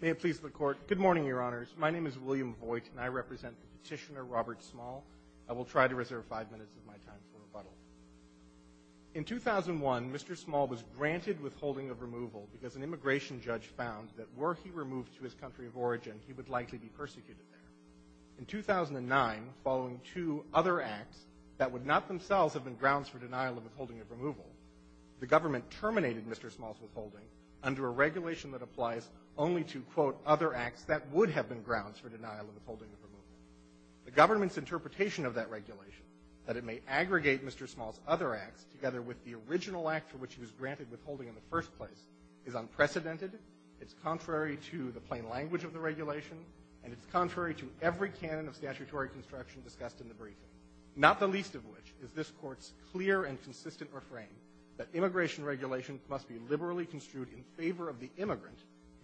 May it please the Court. Good morning, Your Honors. My name is William Voigt, and I represent Petitioner Robert Small. I will try to reserve five minutes of my time for rebuttal. In 2001, Mr. Small was granted withholding of removal because an immigration judge found that were he removed to his country of origin, he would likely be persecuted there. In 2009, following two other acts that would not themselves have been grounds for denial of withholding of a regulation that applies only to, quote, other acts that would have been grounds for denial of withholding of removal. The government's interpretation of that regulation, that it may aggregate Mr. Small's other acts together with the original act for which he was granted withholding in the first place, is unprecedented. It's contrary to the plain language of the regulation, and it's contrary to every canon of statutory construction discussed in the briefing, not the least of which is this Court's clear and consistent refrain that immigration regulations must be liberally construed in favor of the immigrant,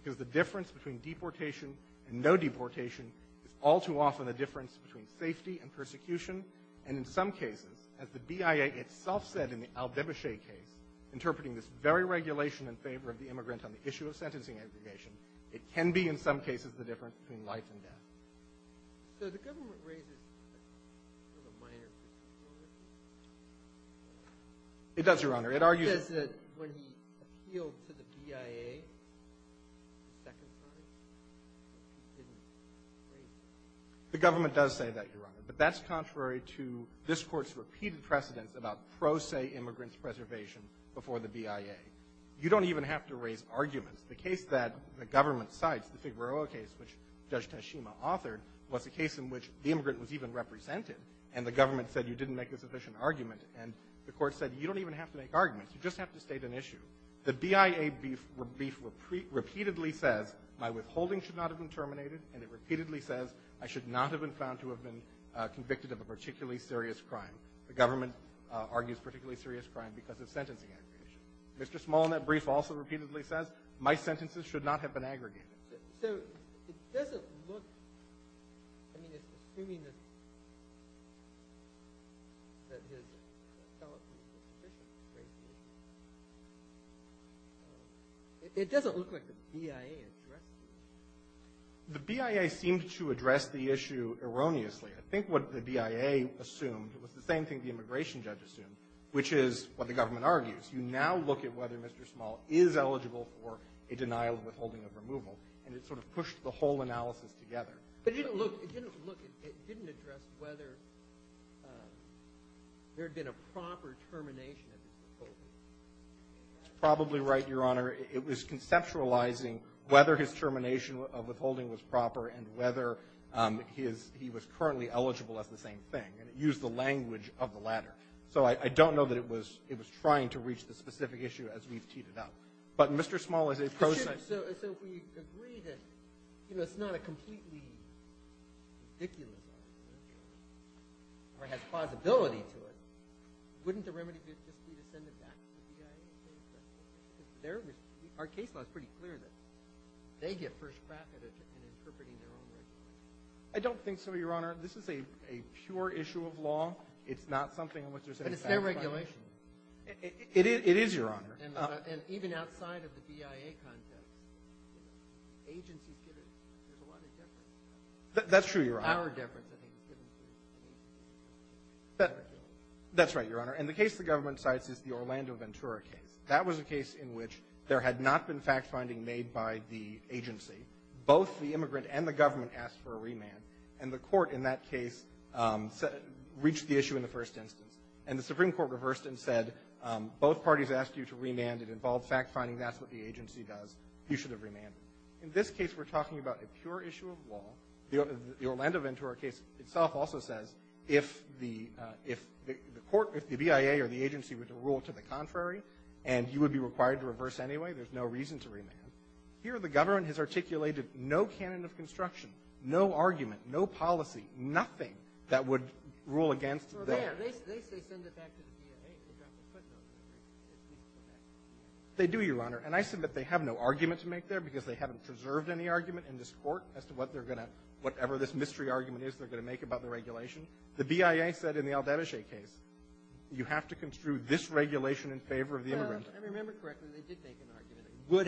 because the difference between deportation and no deportation is all too often a difference between safety and persecution, and in some cases, as the BIA itself said in the al-Babashi case, interpreting this very regulation in favor of the immigrant on the issue of sentencing aggregation, it can be in some cases the difference between life and death. So the government raises a minor concern. It does, Your Honor. It argues that when he appealed to the BIA a second time, he didn't raise it. The government does say that, Your Honor, but that's contrary to this Court's repeated precedence about pro se immigrants' preservation before the BIA. You don't even have to raise arguments. The case that the government cites, the Figueroa case, which Judge Tashima authored, was a case in which the immigrant was even represented, and the government said, you didn't make a sufficient argument, and the Court said, you don't even have to make arguments. You just have to state an issue. The BIA brief repeatedly says, my withholding should not have been terminated, and it repeatedly says, I should not have been found to have been convicted of a particularly serious crime. The government argues particularly serious crime because of sentencing aggregation. Mr. Small in that brief also repeatedly says, my sentences should not have been aggregated. So it doesn't look, I mean, it's extremely misleading that his felonies were sufficiently raised. It doesn't look like the BIA addressed the issue. The BIA seemed to address the issue erroneously. I think what the BIA assumed was the same thing the immigration judge assumed, which is what the government argues. You now look at whether Mr. Small is eligible for a denial of withholding of removal, and it sort of pushed the whole analysis together. But it didn't look, it didn't look, it didn't address whether there had been a proper termination of his withholding. That's probably right, Your Honor. It was conceptualizing whether his termination of withholding was proper and whether his, he was currently eligible as the same thing, and it used the language of the latter. So I don't know that it was, it was trying to reach the specific issue as we've teed it up. But Mr. Small is a process. So if we agree that, you know, it's not a completely ridiculous argument or has plausibility to it, wouldn't the remedy be to send it back to the BIA? Our case law is pretty clear that they get first crack at it in interpreting their own regulations. I don't think so, Your Honor. This is a pure issue of law. It's not something in which there's any satisfaction. It's a regulation. It is, Your Honor. And even outside of the BIA context, agencies get it. There's a lot of difference. That's true, Your Honor. Our difference, I think, is given to the BIA. That's right, Your Honor. And the case the government cites is the Orlando-Ventura case. That was a case in which there had not been fact-finding made by the agency. Both the immigrant and the government asked for a remand, and the Court in that case reached the issue in the first instance. And the Supreme Court reversed and said, both parties asked you to remand. It involved fact-finding. That's what the agency does. You should have remanded. In this case, we're talking about a pure issue of law. The Orlando-Ventura case itself also says, if the court, if the BIA or the agency were to rule to the contrary, and you would be required to reverse anyway, there's no reason to remand. Here, the government has articulated no canon of construction, no argument, no policy, nothing that would rule against the ---- Well, they have. They say send it back to the BIA. They've got their footnotes in there. They do, Your Honor. And I submit they have no argument to make there because they haven't preserved any argument in this Court as to what they're going to, whatever this mystery argument is they're going to make about the regulation. The BIA said in the al-Danishay case, you have to construe this regulation in favor of the immigrant. Well, if I remember correctly, they did make an argument, and would have,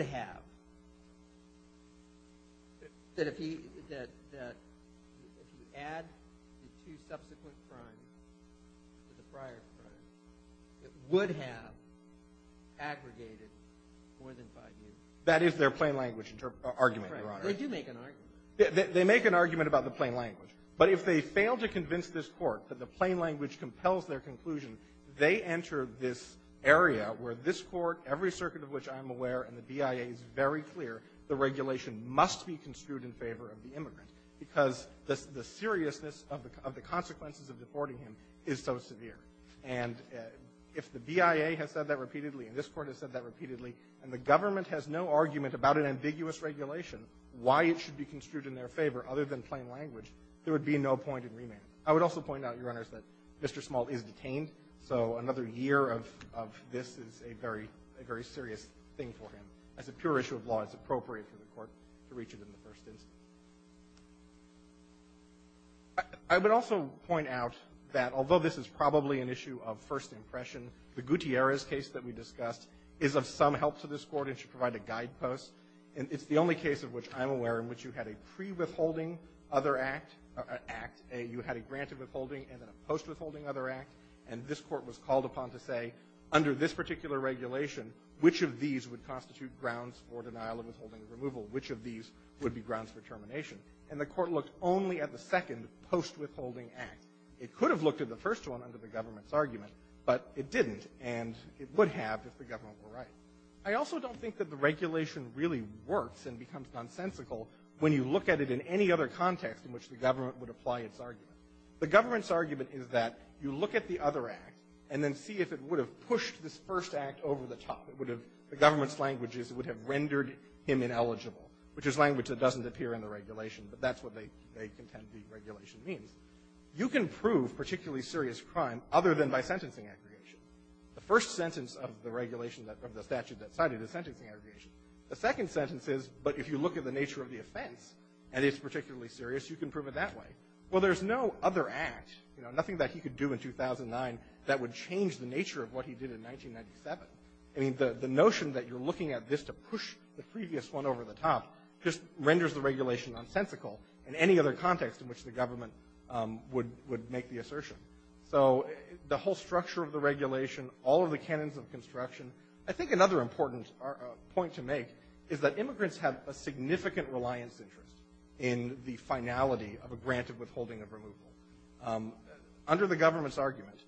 that if you add the two subsequent crimes to the prior crimes, it would have aggregated more than five years. That is their plain language argument, Your Honor. They do make an argument. They make an argument about the plain language. But if they fail to convince this Court that the plain language compels their conclusion, they enter this area where this Court, every circuit of which I'm aware, and the BIA is very clear, the because the seriousness of the consequences of deporting him is so severe. And if the BIA has said that repeatedly, and this Court has said that repeatedly, and the government has no argument about an ambiguous regulation, why it should be construed in their favor other than plain language, there would be no point in remand. I would also point out, Your Honors, that Mr. Small is detained, so another year of this is a very serious thing for him. As a pure issue of law, it's appropriate for the Court to reach it in the first instance. I would also point out that, although this is probably an issue of first impression, the Gutierrez case that we discussed is of some help to this Court and should provide a guidepost. And it's the only case of which I'm aware in which you had a pre-withholding other act, you had a granted withholding and a post-withholding other act, and this Court was called upon to say, under this particular regulation, which of these would constitute grounds for denial of withholding removal, which of these would be grounds for termination. And the Court looked only at the second post-withholding act. It could have looked at the first one under the government's argument, but it didn't, and it would have if the government were right. I also don't think that the regulation really works and becomes nonsensical when you look at it in any other context in which the government would apply its argument. The government's argument is that you look at the other act and then see if it would have pushed this first act over the top. It would have the government's language is it would have rendered him ineligible, which is language that doesn't appear in the regulation, but that's what they contend the regulation means. You can prove particularly serious crime other than by sentencing aggregation. The first sentence of the regulation that the statute that cited is sentencing aggregation. The second sentence is, but if you look at the nature of the offense and it's particularly serious, you can prove it that way. Well, there's no other act, you know, nothing that he could do in 2009 that would change the nature of what he did in 1997. I mean, the notion that you're looking at this to push the previous one over the top just renders the regulation nonsensical in any other context in which the government would make the assertion. So the whole structure of the regulation, all of the canons of construction, I think another important point to make is that immigrants have a significant reliance interest in the finality of a granted withholding of removal. Under the government's argument,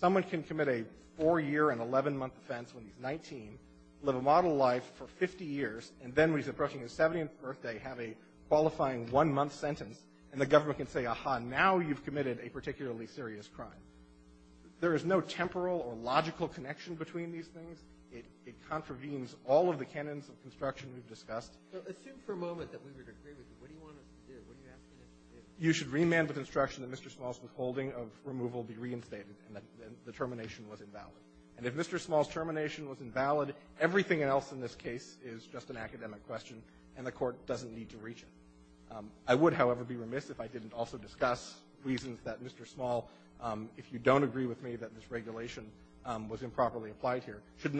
someone can commit a four-year and 11-month offense when he's 19, live a model life for 50 years, and then when he's approaching his 70th birthday, have a qualifying one-month sentence, and the government can say, aha, now you've committed a particularly serious crime. There is no temporal or logical connection between these things. It contravenes all of the canons of construction we've discussed. So assume for a moment that we would agree with you. What do you want us to do? What are you asking us to do? You should remand the construction that Mr. Small's withholding of removal be reinstated and that the termination was invalid. And if Mr. Small's termination was invalid, everything else in this case is just an academic question, and the Court doesn't need to reach it. I would, however, be remiss if I didn't also discuss reasons that Mr. Small, if you don't agree with me that this regulation was improperly applied here, should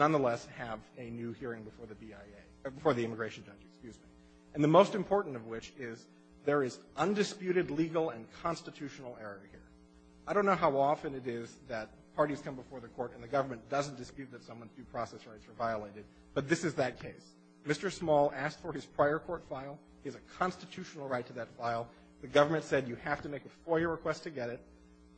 excuse me, and the most important of which is there is undisputed legal and constitutional error here. I don't know how often it is that parties come before the Court and the government doesn't dispute that someone's due process rights are violated, but this is that case. Mr. Small asked for his prior court file. He has a constitutional right to that file. The government said you have to make a FOIA request to get it.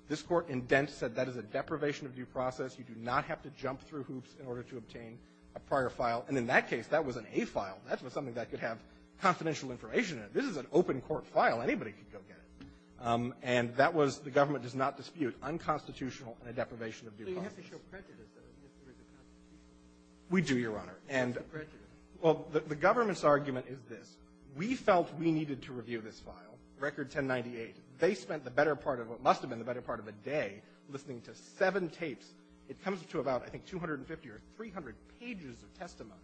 This Court in Dent said that is a deprivation of due process. You do not have to jump through hoops in order to obtain a prior file. And in that case, that was an A file. That was something that could have confidential information in it. This is an open court file. Anybody could go get it. And that was the government does not dispute unconstitutional and a deprivation of due process. So you have to show prejudice, though, if there is a constitutional error. We do, Your Honor. It's a prejudice. Well, the government's argument is this. We felt we needed to review this file, Record 1098. They spent the better part of what must have been the better part of a day listening to seven tapes. It comes to about, I think, 250 or 300 pages of testimony.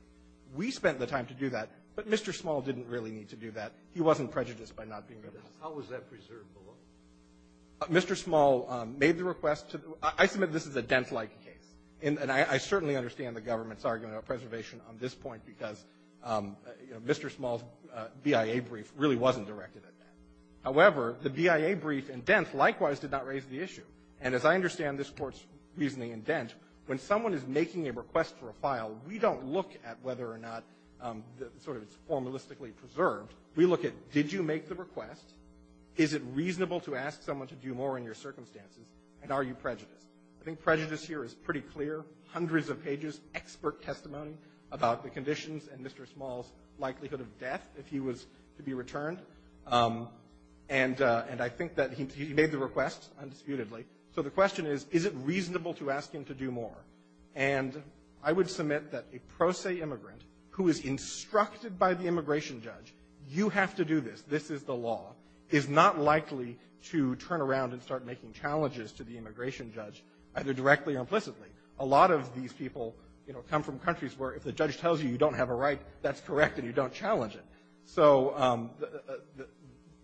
We spent the time to do that, but Mr. Small didn't really need to do that. He wasn't prejudiced by not being able to do that. How was that preserved below? Mr. Small made the request to the – I submit this is a Dent-like case. And I certainly understand the government's argument about preservation on this point because, you know, Mr. Small's BIA brief really wasn't directed at that. However, the BIA brief in Dent likewise did not raise the issue. And as I understand this Court's reasoning in Dent, when someone is making a request for a file, we don't look at whether or not sort of it's formalistically preserved. We look at, did you make the request? Is it reasonable to ask someone to do more in your circumstances? And are you prejudiced? I think prejudice here is pretty clear, hundreds of pages, expert testimony about the conditions and Mr. Small's likelihood of death if he was to be returned. And I think that he made the request undisputedly. So the question is, is it reasonable to ask him to do more? And I would submit that a pro se immigrant who is instructed by the immigration judge, you have to do this, this is the law, is not likely to turn around and start making challenges to the immigration judge either directly or implicitly. A lot of these people, you know, come from countries where if the judge tells you you don't have a right, that's correct and you don't challenge it. So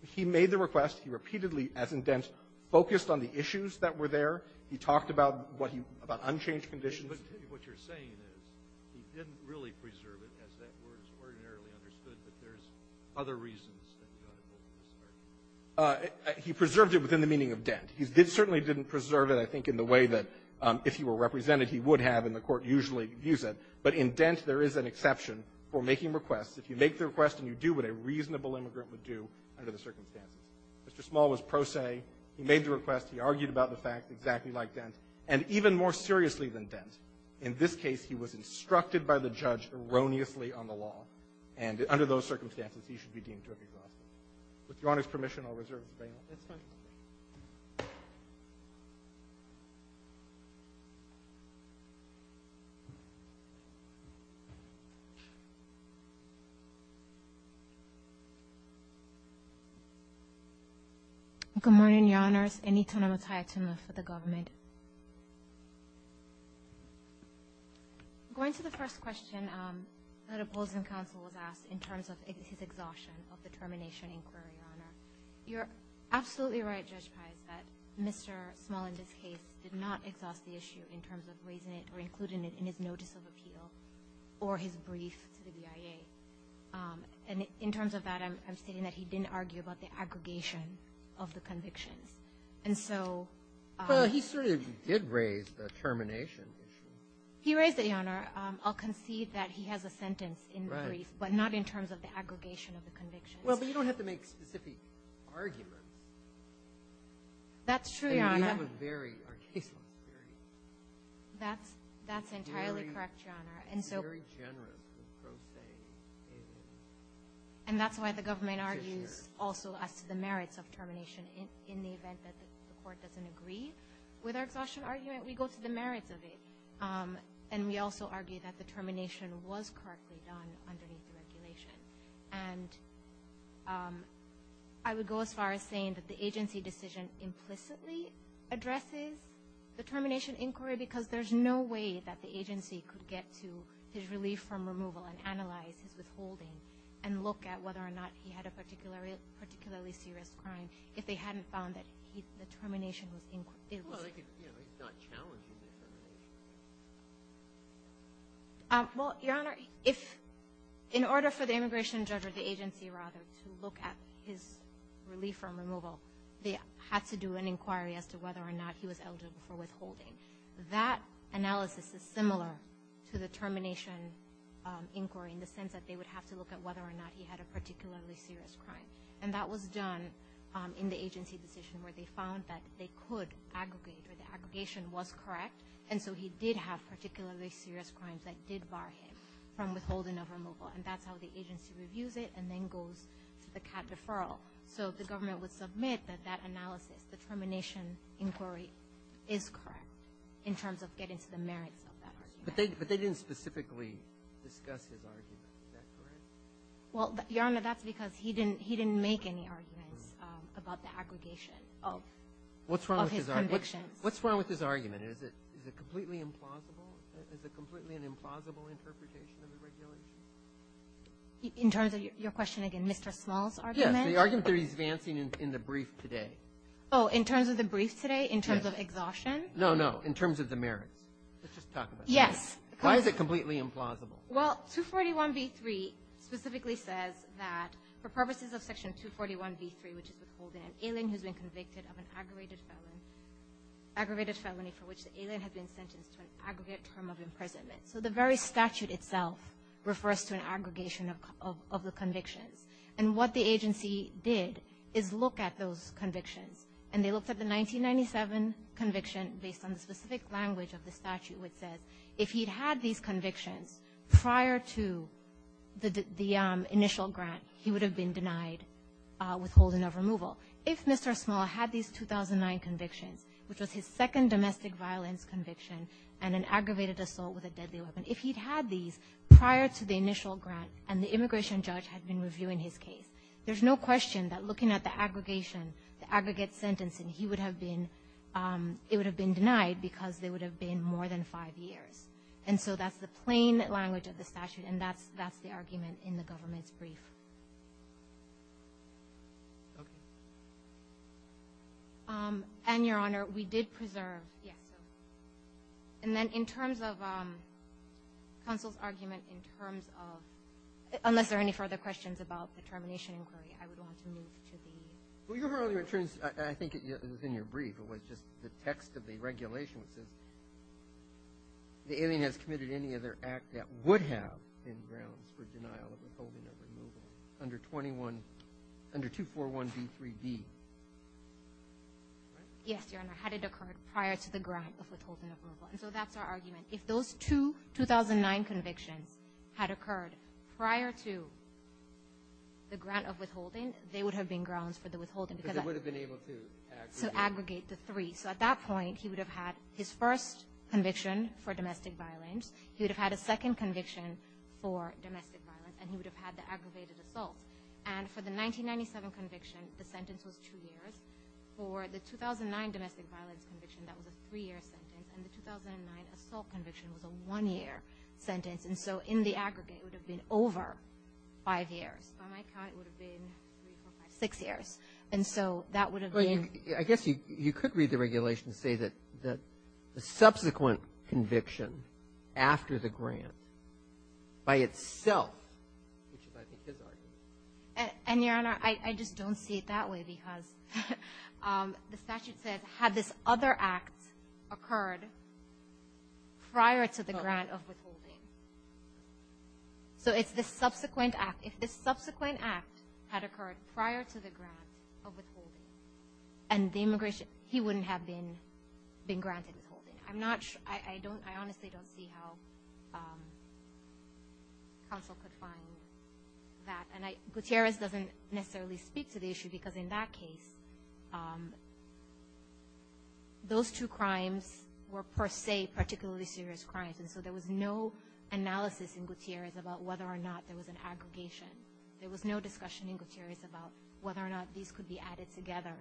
he made the request. He repeatedly, as in Dent, focused on the issues that were there. He talked about what he – about unchanged conditions. But what you're saying is he didn't really preserve it, as that word is ordinarily understood, but there's other reasons that he got involved in this argument. He preserved it within the meaning of Dent. He certainly didn't preserve it, I think, in the way that if he were represented, he would have, and the Court usually views it. But in Dent, there is an exception for making requests. If you make the request and you do what a reasonable immigrant would do under the circumstances, it's exactly like Dent, and even more seriously than Dent. In this case, he was instructed by the judge erroneously on the law. And under those circumstances, he should be deemed to have exhausted it. With Your Honor's permission, I'll reserve the bail. That's fine. Thank you. Good morning, Your Honors. Anita Namataya-Tumla for the government. Going to the first question that opposing counsel was asked in terms of his exhaustion of the termination inquiry, Your Honor. You're absolutely right, Judge Pys, that Mr. Small, in this case, did not exhaust the issue in terms of raising it or including it in his notice of appeal or his brief to the BIA. And in terms of that, I'm stating that he didn't argue about the aggregation of the convictions. And so he sort of did raise the termination issue. He raised it, Your Honor. I'll concede that he has a sentence in the brief, but not in terms of the aggregation of the convictions. Well, but you don't have to make specific arguments. That's true, Your Honor. I mean, we have a very, our case law is very... That's entirely correct, Your Honor. It's very generous and profane and... And that's why the government argues also as to the merits of termination in the event that the court doesn't agree with our exhaustion argument, we go to the merits of it. And we also argue that the termination was correctly done underneath the regulation. And I would go as far as saying that the agency decision implicitly addresses the termination inquiry because there's no way that the agency could get to his relief from removal and analyze his withholding and look at whether or not he had a particularly serious crime if they hadn't found that the termination was... Well, they could, you know, he's not challenging the termination. Well, Your Honor, if in order for the immigration judge or the agency rather to look at his relief from removal, they had to do an inquiry as to whether or not he was eligible for withholding. That analysis is similar to the termination inquiry in the sense that they would have to look at whether or not he had a particularly serious crime. And that was done in the agency decision where they found that they could aggregate or the aggregation was correct. And so he did have particularly serious crimes that did bar him from withholding of removal. And that's how the agency reviews it and then goes to the CAD deferral. So the government would submit that that analysis, the termination inquiry, is correct in terms of getting to the merits of that argument. But they didn't specifically discuss his argument. Is that correct? Well, Your Honor, that's because he didn't make any arguments about the aggregation of his conviction. What's wrong with his argument? Is it completely implausible? Is it completely an implausible interpretation of the regulation? In terms of your question again, Mr. Small's argument? Yes, the argument that he's advancing in the brief today. Oh, in terms of the brief today, in terms of exhaustion? No, no, in terms of the merits. Let's just talk about that. Yes. Why is it completely implausible? Well, 241 v. 3 specifically says that for purposes of Section 241 v. 3, which is withholding an alien who's been convicted of an aggravated felony for which the alien has been sentenced to an aggregate term of imprisonment. So the very statute itself refers to an aggregation of the convictions. And what the agency did is look at those convictions, and they looked at the 1997 conviction based on the specific language of the statute which says if he'd had these convictions prior to the initial grant, he would have been denied withholding of removal. If Mr. Small had these 2009 convictions, which was his second domestic violence conviction and an aggravated assault with a deadly weapon, if he'd had these prior to the initial grant and the immigration judge had been reviewing his case, there's no question that looking at the aggregation, the aggregate sentencing, he would have been – it would have been denied because they would have been more than five years. And so that's the plain language of the statute, and that's the argument in the government's brief. Okay. And, Your Honor, we did preserve – yeah, so – and then in terms of counsel's argument in terms of – unless there are any further questions about the termination inquiry, I would want to move to the – Well, Your Honor, I think it was in your brief, it was just the text of the regulation which says the alien has committed any other act that would have been grounds for denial of withholding of removal under 21 – under 241b3d, right? Yes, Your Honor. Had it occurred prior to the grant of withholding of removal. And so that's our argument. If those two 2009 convictions had occurred prior to the grant of withholding, they would have been grounds for the withholding because – Because they would have been able to aggregate. So aggregate the three. So at that point, he would have had his first conviction for domestic violence. He would have had a second conviction for domestic violence. And he would have had the aggravated assault. And for the 1997 conviction, the sentence was two years. For the 2009 domestic violence conviction, that was a three-year sentence. And the 2009 assault conviction was a one-year sentence. And so in the aggregate, it would have been over five years. By my count, it would have been three, four, five, six years. And so that would have been – I guess you could read the regulation to say that the subsequent conviction after the grant by itself, which is, I think, his argument. And, Your Honor, I just don't see it that way because the statute said, had this other act occurred prior to the grant of withholding. So it's the subsequent act. If this subsequent act had occurred prior to the grant of withholding and the immigration, he wouldn't have been granted withholding. I honestly don't see how counsel could find that. Gutierrez doesn't necessarily speak to the issue because, in that case, those two crimes were, per se, particularly serious crimes. And so there was no analysis in Gutierrez about whether or not there was an aggregation. There was no discussion in Gutierrez about whether or not these could be added together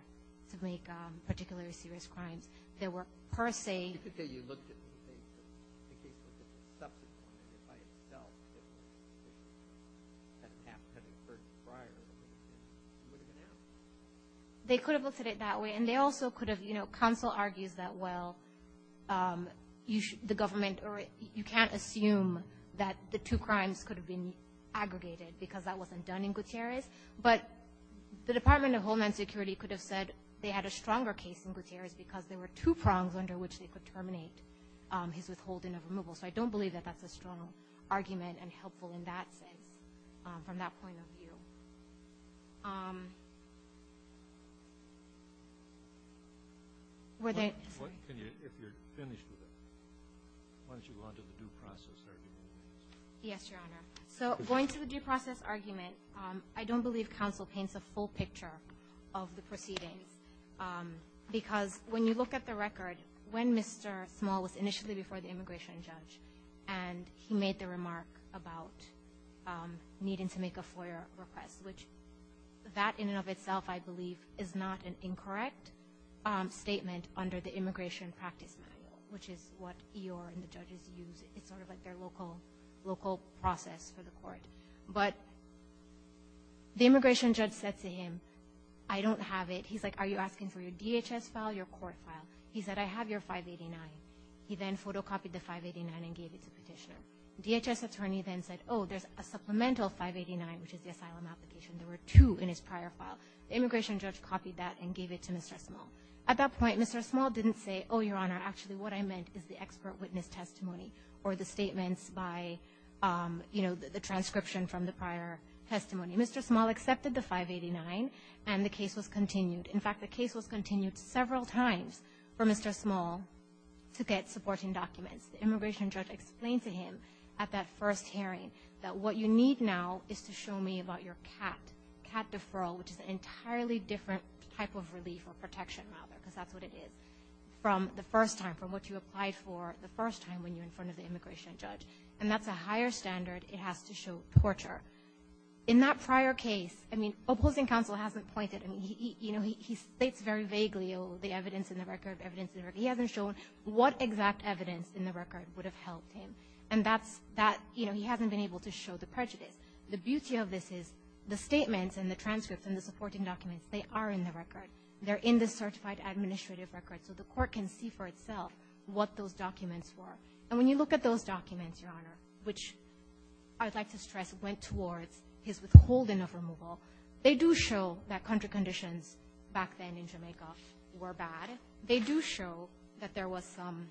to make particularly serious crimes. They were, per se. You could say you looked at the case as a subsequent by itself. If that act had occurred prior to the grant, it would have been out. They could have looked at it that way. And they also could have – you know, counsel argues that, well, the government – you can't assume that the two crimes could have been aggregated because that wasn't done in Gutierrez. But the Department of Homeland Security could have said they had a stronger case in Gutierrez because there were two prongs under which they could terminate his withholding of removal. So I don't believe that that's a strong argument and helpful in that sense from that point of view. Were there – If you're finished with it, why don't you go on to the due process argument? Yes, Your Honor. So going to the due process argument, I don't believe counsel paints a full picture of the proceedings because when you look at the record, when Mr. Small was initially before the immigration judge and he made the remark about needing to make a FOIA request, which that in and of itself, I believe, is not an incorrect statement under the Immigration Practice Manual, which is what EOIR and the judges use. It's sort of like their local process for the court. But the immigration judge said to him, I don't have it. He's like, are you asking for your DHS file, your court file? He said, I have your 589. He then photocopied the 589 and gave it to Petitioner. DHS attorney then said, oh, there's a supplemental 589, which is the asylum application. There were two in his prior file. The immigration judge copied that and gave it to Mr. Small. At that point, Mr. Small didn't say, oh, Your Honor, actually what I meant is the expert witness testimony or the statements by, you know, the transcription from the prior testimony. Mr. Small accepted the 589, and the case was continued. In fact, the case was continued several times for Mr. Small to get supporting documents. The immigration judge explained to him at that first hearing that what you need now is to show me about your CAT, CAT deferral, which is an entirely different type of relief or protection, rather, because that's what it is, from the first time, from what you applied for the first time when you're in front of the immigration judge. And that's a higher standard it has to show torture. In that prior case, I mean, opposing counsel hasn't pointed. I mean, he, you know, he states very vaguely, oh, the evidence in the record, evidence in the record. He hasn't shown what exact evidence in the record would have helped him. And that's that, you know, he hasn't been able to show the prejudice. The beauty of this is the statements and the transcripts and the supporting documents, they are in the record. They're in the certified administrative record, so the court can see for itself what those documents were. And when you look at those documents, Your Honor, which I would like to stress went towards his withholding of removal, they do show that country conditions back then in Jamaica were bad. They do show that there was some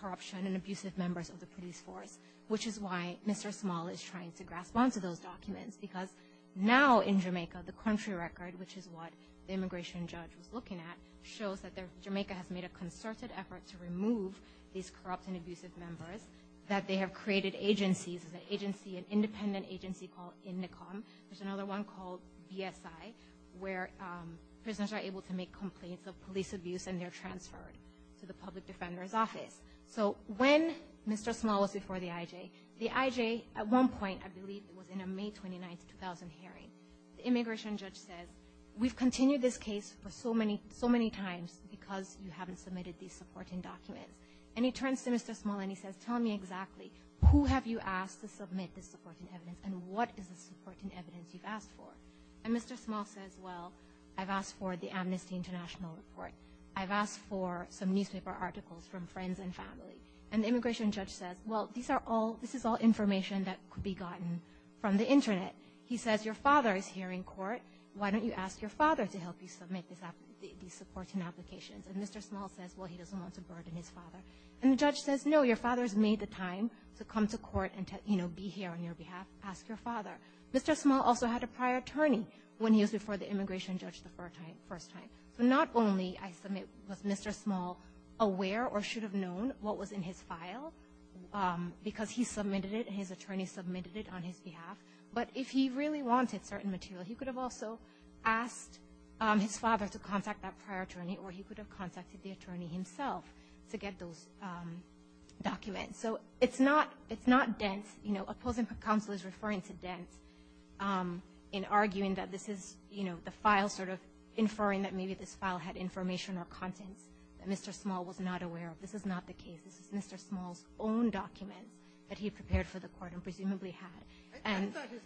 corruption and abusive members of the police force, which is why Mr. Small is trying to grasp onto those documents, because now in Jamaica, the country record, which is what the immigration judge was looking at, shows that Jamaica has made a concerted effort to remove these corrupt and abusive members, that they have created agencies, this is an agency, an independent agency called Indicom. There's another one called BSI, where prisoners are able to make complaints of police abuse and they're transferred to the public defender's office. So when Mr. Small was before the IJ, the IJ at one point, I believe it was in a May 29, 2000 hearing, the immigration judge said, we've continued this case for so many times because you haven't submitted these supporting documents. And he turns to Mr. Small and he says, tell me exactly, who have you asked to submit this supporting evidence and what is the supporting evidence you've asked for? And Mr. Small says, well, I've asked for the Amnesty International report. I've asked for some newspaper articles from friends and family. And the immigration judge says, well, these are all, this is all information that could be gotten from the internet. He says, your father is here in court. Why don't you ask your father to help you submit these supporting applications? And Mr. Small says, well, he doesn't want to burden his father. And the judge says, no, your father's made the time to come to court and, you know, be here on your behalf. Ask your father. Mr. Small also had a prior attorney when he was before the immigration judge the first time. So not only was Mr. Small aware or should have known what was in his file because he submitted it and his attorney submitted it on his behalf, but if he really wanted certain material, he could have also asked his father to contact that prior attorney or he could have asked his father to contact the immigration judge. So it's not, it's not dense, you know, opposing counsel is referring to dense in arguing that this is, you know, the file sort of inferring that maybe this file had information or content that Mr. Small was not aware of. This is not the case. This is Mr. Small's own document that he prepared for the court and presumably had. I guess I understand what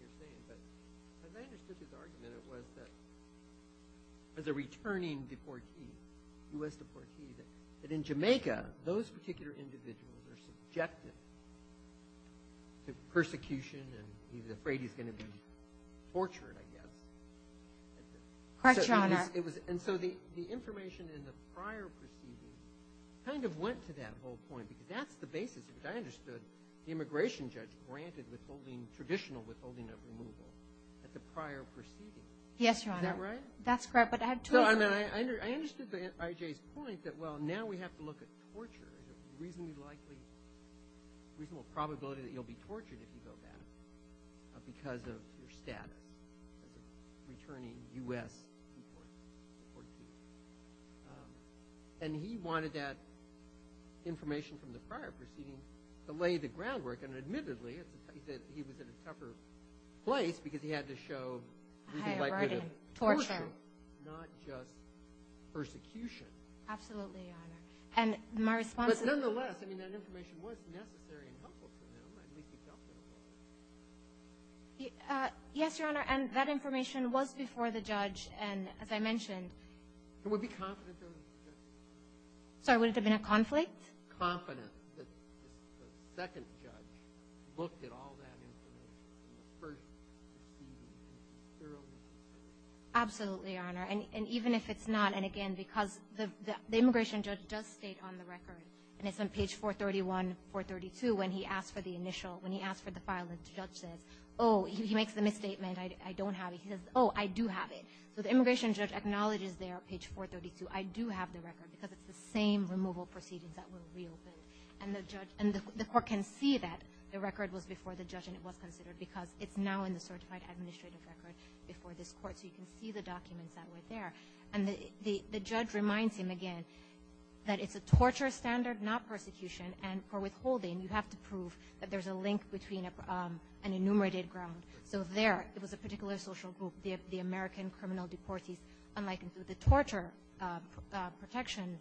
you're saying, but as I understood his argument it was that as a returning deportee, U.S. deportee, that in Jamaica, those particular individuals are subjected to persecution and he's afraid he's going to be tortured, I guess. Correct, Your Honor. And so the information in the prior proceeding kind of went to that whole point because that's the basis of it. I understood the immigration judge granted withholding, traditional withholding of removal at the prior proceeding. Yes, Your Honor. Is that right? That's correct, but I have to agree. No, I mean, I understood I.J.'s point that, well, now we have to look at torture. There's a reasonably likely, reasonable probability that you'll be tortured if you go back because of your status as a returning U.S. deportee. And he wanted that information from the prior proceeding to lay the groundwork, and admittedly, he said he was in a tougher place because he had to show a reasonable likelihood of torture, not just persecution. Absolutely, Your Honor. And my response is. But nonetheless, I mean, that information was necessary and helpful to him, at least he felt it was. Yes, Your Honor, and that information was before the judge, and as I mentioned. Would it be confident? Sorry, would it have been a conflict? Confident that the second judge looked at all that information, the first proceeding, thoroughly. Absolutely, Your Honor. And even if it's not, and again, because the immigration judge does state on the record, and it's on page 431, 432, when he asked for the initial, when he asked for the file, the judge says, oh, he makes the misstatement, I don't have it. He says, oh, I do have it. So the immigration judge acknowledges there, page 432, I do have the record because it's the same removal proceedings that were reopened, and the court can see that the record was before the judge and it was considered because it's now in the certified administrative record before this court, so you can see the documents that were there. And the judge reminds him again that it's a torture standard, not persecution, and for withholding, you have to prove that there's a link between an enumerated ground. So there, it was a particular social group, the American criminal deportees, unlike the torture protection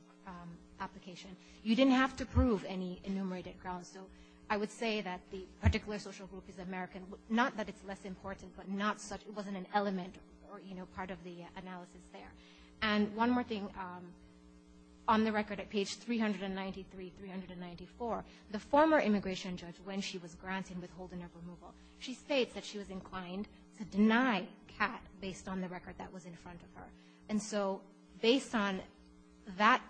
application, you didn't have to prove any enumerated grounds. So I would say that the particular social group is American, not that it's less important, but not such, it wasn't an element or, you know, part of the analysis there. And one more thing, on the record at page 393, 394, the former immigration judge, when she was granting withholding of removal, she states that she was inclined to deny CAT based on the record that was in front of her. And so based on that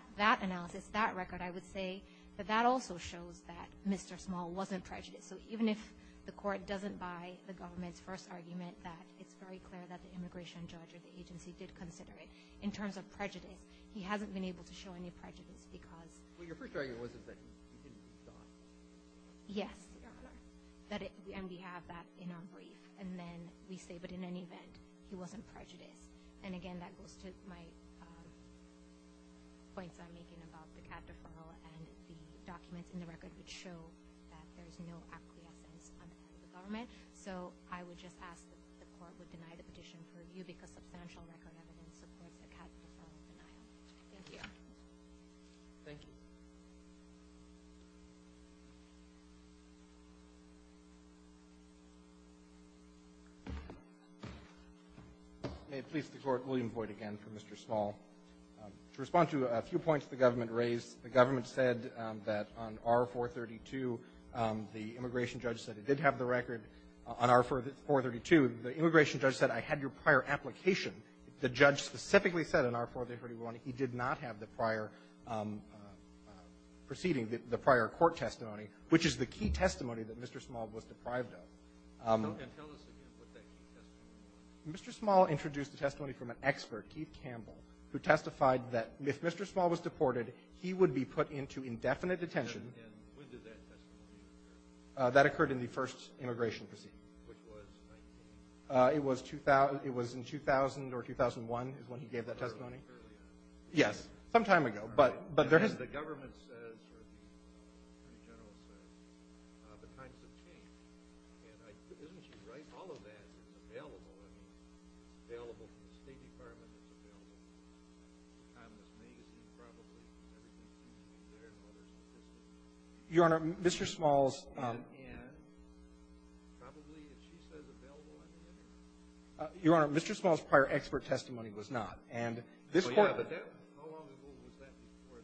analysis, that record, I would say that that also shows that Mr. Small wasn't prejudiced. So even if the court doesn't buy the government's first argument that it's very clear that the immigration judge or the agency did consider it, in terms of prejudice, he hasn't been able to show any prejudice because Well, your first argument was that you didn't think he thought. Yes, Your Honor. And we have that in our brief. And then we say, but in any event, he wasn't prejudiced. And again, that goes to my points I'm making about the CAT deferral and the documents in the record which show that there is no acquiescence on behalf of the government. So I would just ask that the court would deny the petition for review because substantial record evidence supports the CAT deferral denial. Thank you. Thank you. May it please the Court, William Boyd again for Mr. Small. To respond to a few points the government raised, the government said that on R-432, the immigration judge said it did have the record on R-432. The immigration judge said, I had your prior application. The judge specifically said on R-431 he did not have the prior proceeding, the prior court testimony, which is the key testimony that Mr. Small was deprived of. Okay. Tell us again what that key testimony was. Mr. Small introduced the testimony from an expert, Keith Campbell, who testified that if Mr. Small was deported, he would be put into indefinite detention. And when did that testimony occur? That occurred in the first immigration proceeding. Which was 19? It was in 2000 or 2001 is when he gave that testimony. Earlier. Yes. Some time ago. And then the government says, or the Attorney General says, the times have changed. And isn't she right? All of that is available. I mean, it's available. The State Department is available. The Timeless Magazine is probably there in order to take it. Your Honor, Mr. Small's Your Honor, Mr. Small's prior expert testimony was not. And this Court ---- Oh, yeah. But how long ago was that before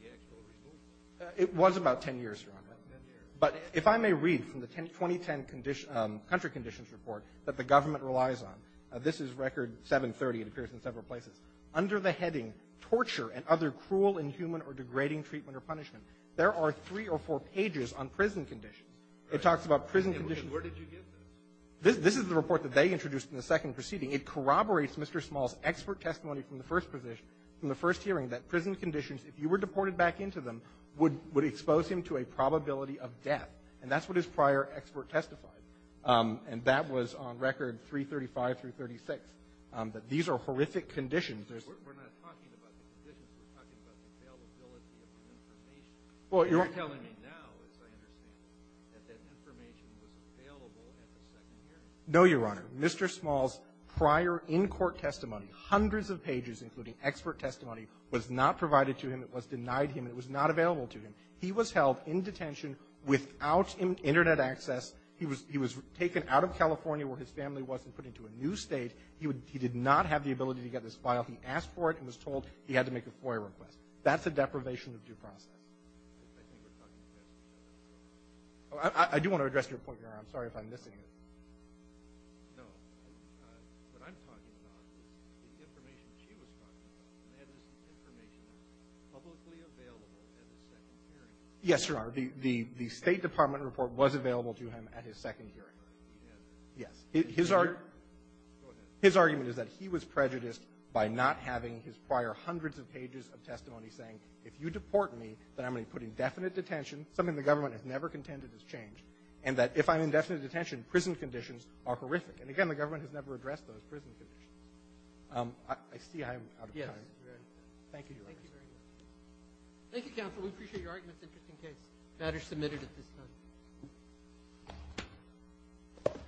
the actual removal? It was about 10 years, Your Honor. About 10 years. But if I may read from the 2010 Country Conditions Report that the government relies on, this is Record 730. It appears in several places. Under the heading, Torture and Other Cruel, Inhuman, or Degrading Treatment or Punishment, there are three or four pages on prison conditions. It talks about prison conditions. And where did you get this? This is the report that they introduced in the second proceeding. It corroborates Mr. Small's expert testimony from the first hearing that prison conditions, if you were deported back into them, would expose him to a probability of death. And that's what his prior expert testified. And that was on Record 335 through 36, that these are horrific conditions. We're not talking about the conditions. We're talking about the availability of the information. You're telling me now, as I understand it, that that information was available at the second hearing. No, Your Honor. Mr. Small's prior in-court testimony, hundreds of pages, including expert testimony, was not provided to him. It was denied him. It was not available to him. He was held in detention without Internet access. He was taken out of California where his family was and put into a new State. He did not have the ability to get this file. He asked for it and was told he had to make a FOIA request. That's a deprivation of due process. I think we're talking about that. I do want to address your point, Your Honor. I'm sorry if I'm missing it. No. What I'm talking about is the information she was talking about, and that is information publicly available at the second hearing. Yes, Your Honor. The State Department report was available to him at his second hearing. Yes. Go ahead. His argument is that he was prejudiced by not having his prior hundreds of pages of testimony saying, if you deport me, then I'm going to be put in definite detention, something the government has never contended has changed, and that if I'm in definite detention, prison conditions are horrific. And again, the government has never addressed those prison conditions. I see I'm out of time. Yes, you're out of time. Thank you, Your Honor. Thank you very much. Thank you, counsel. We appreciate your argument. It's an interesting case. The matter is submitted at this time. Thank you. Thank you.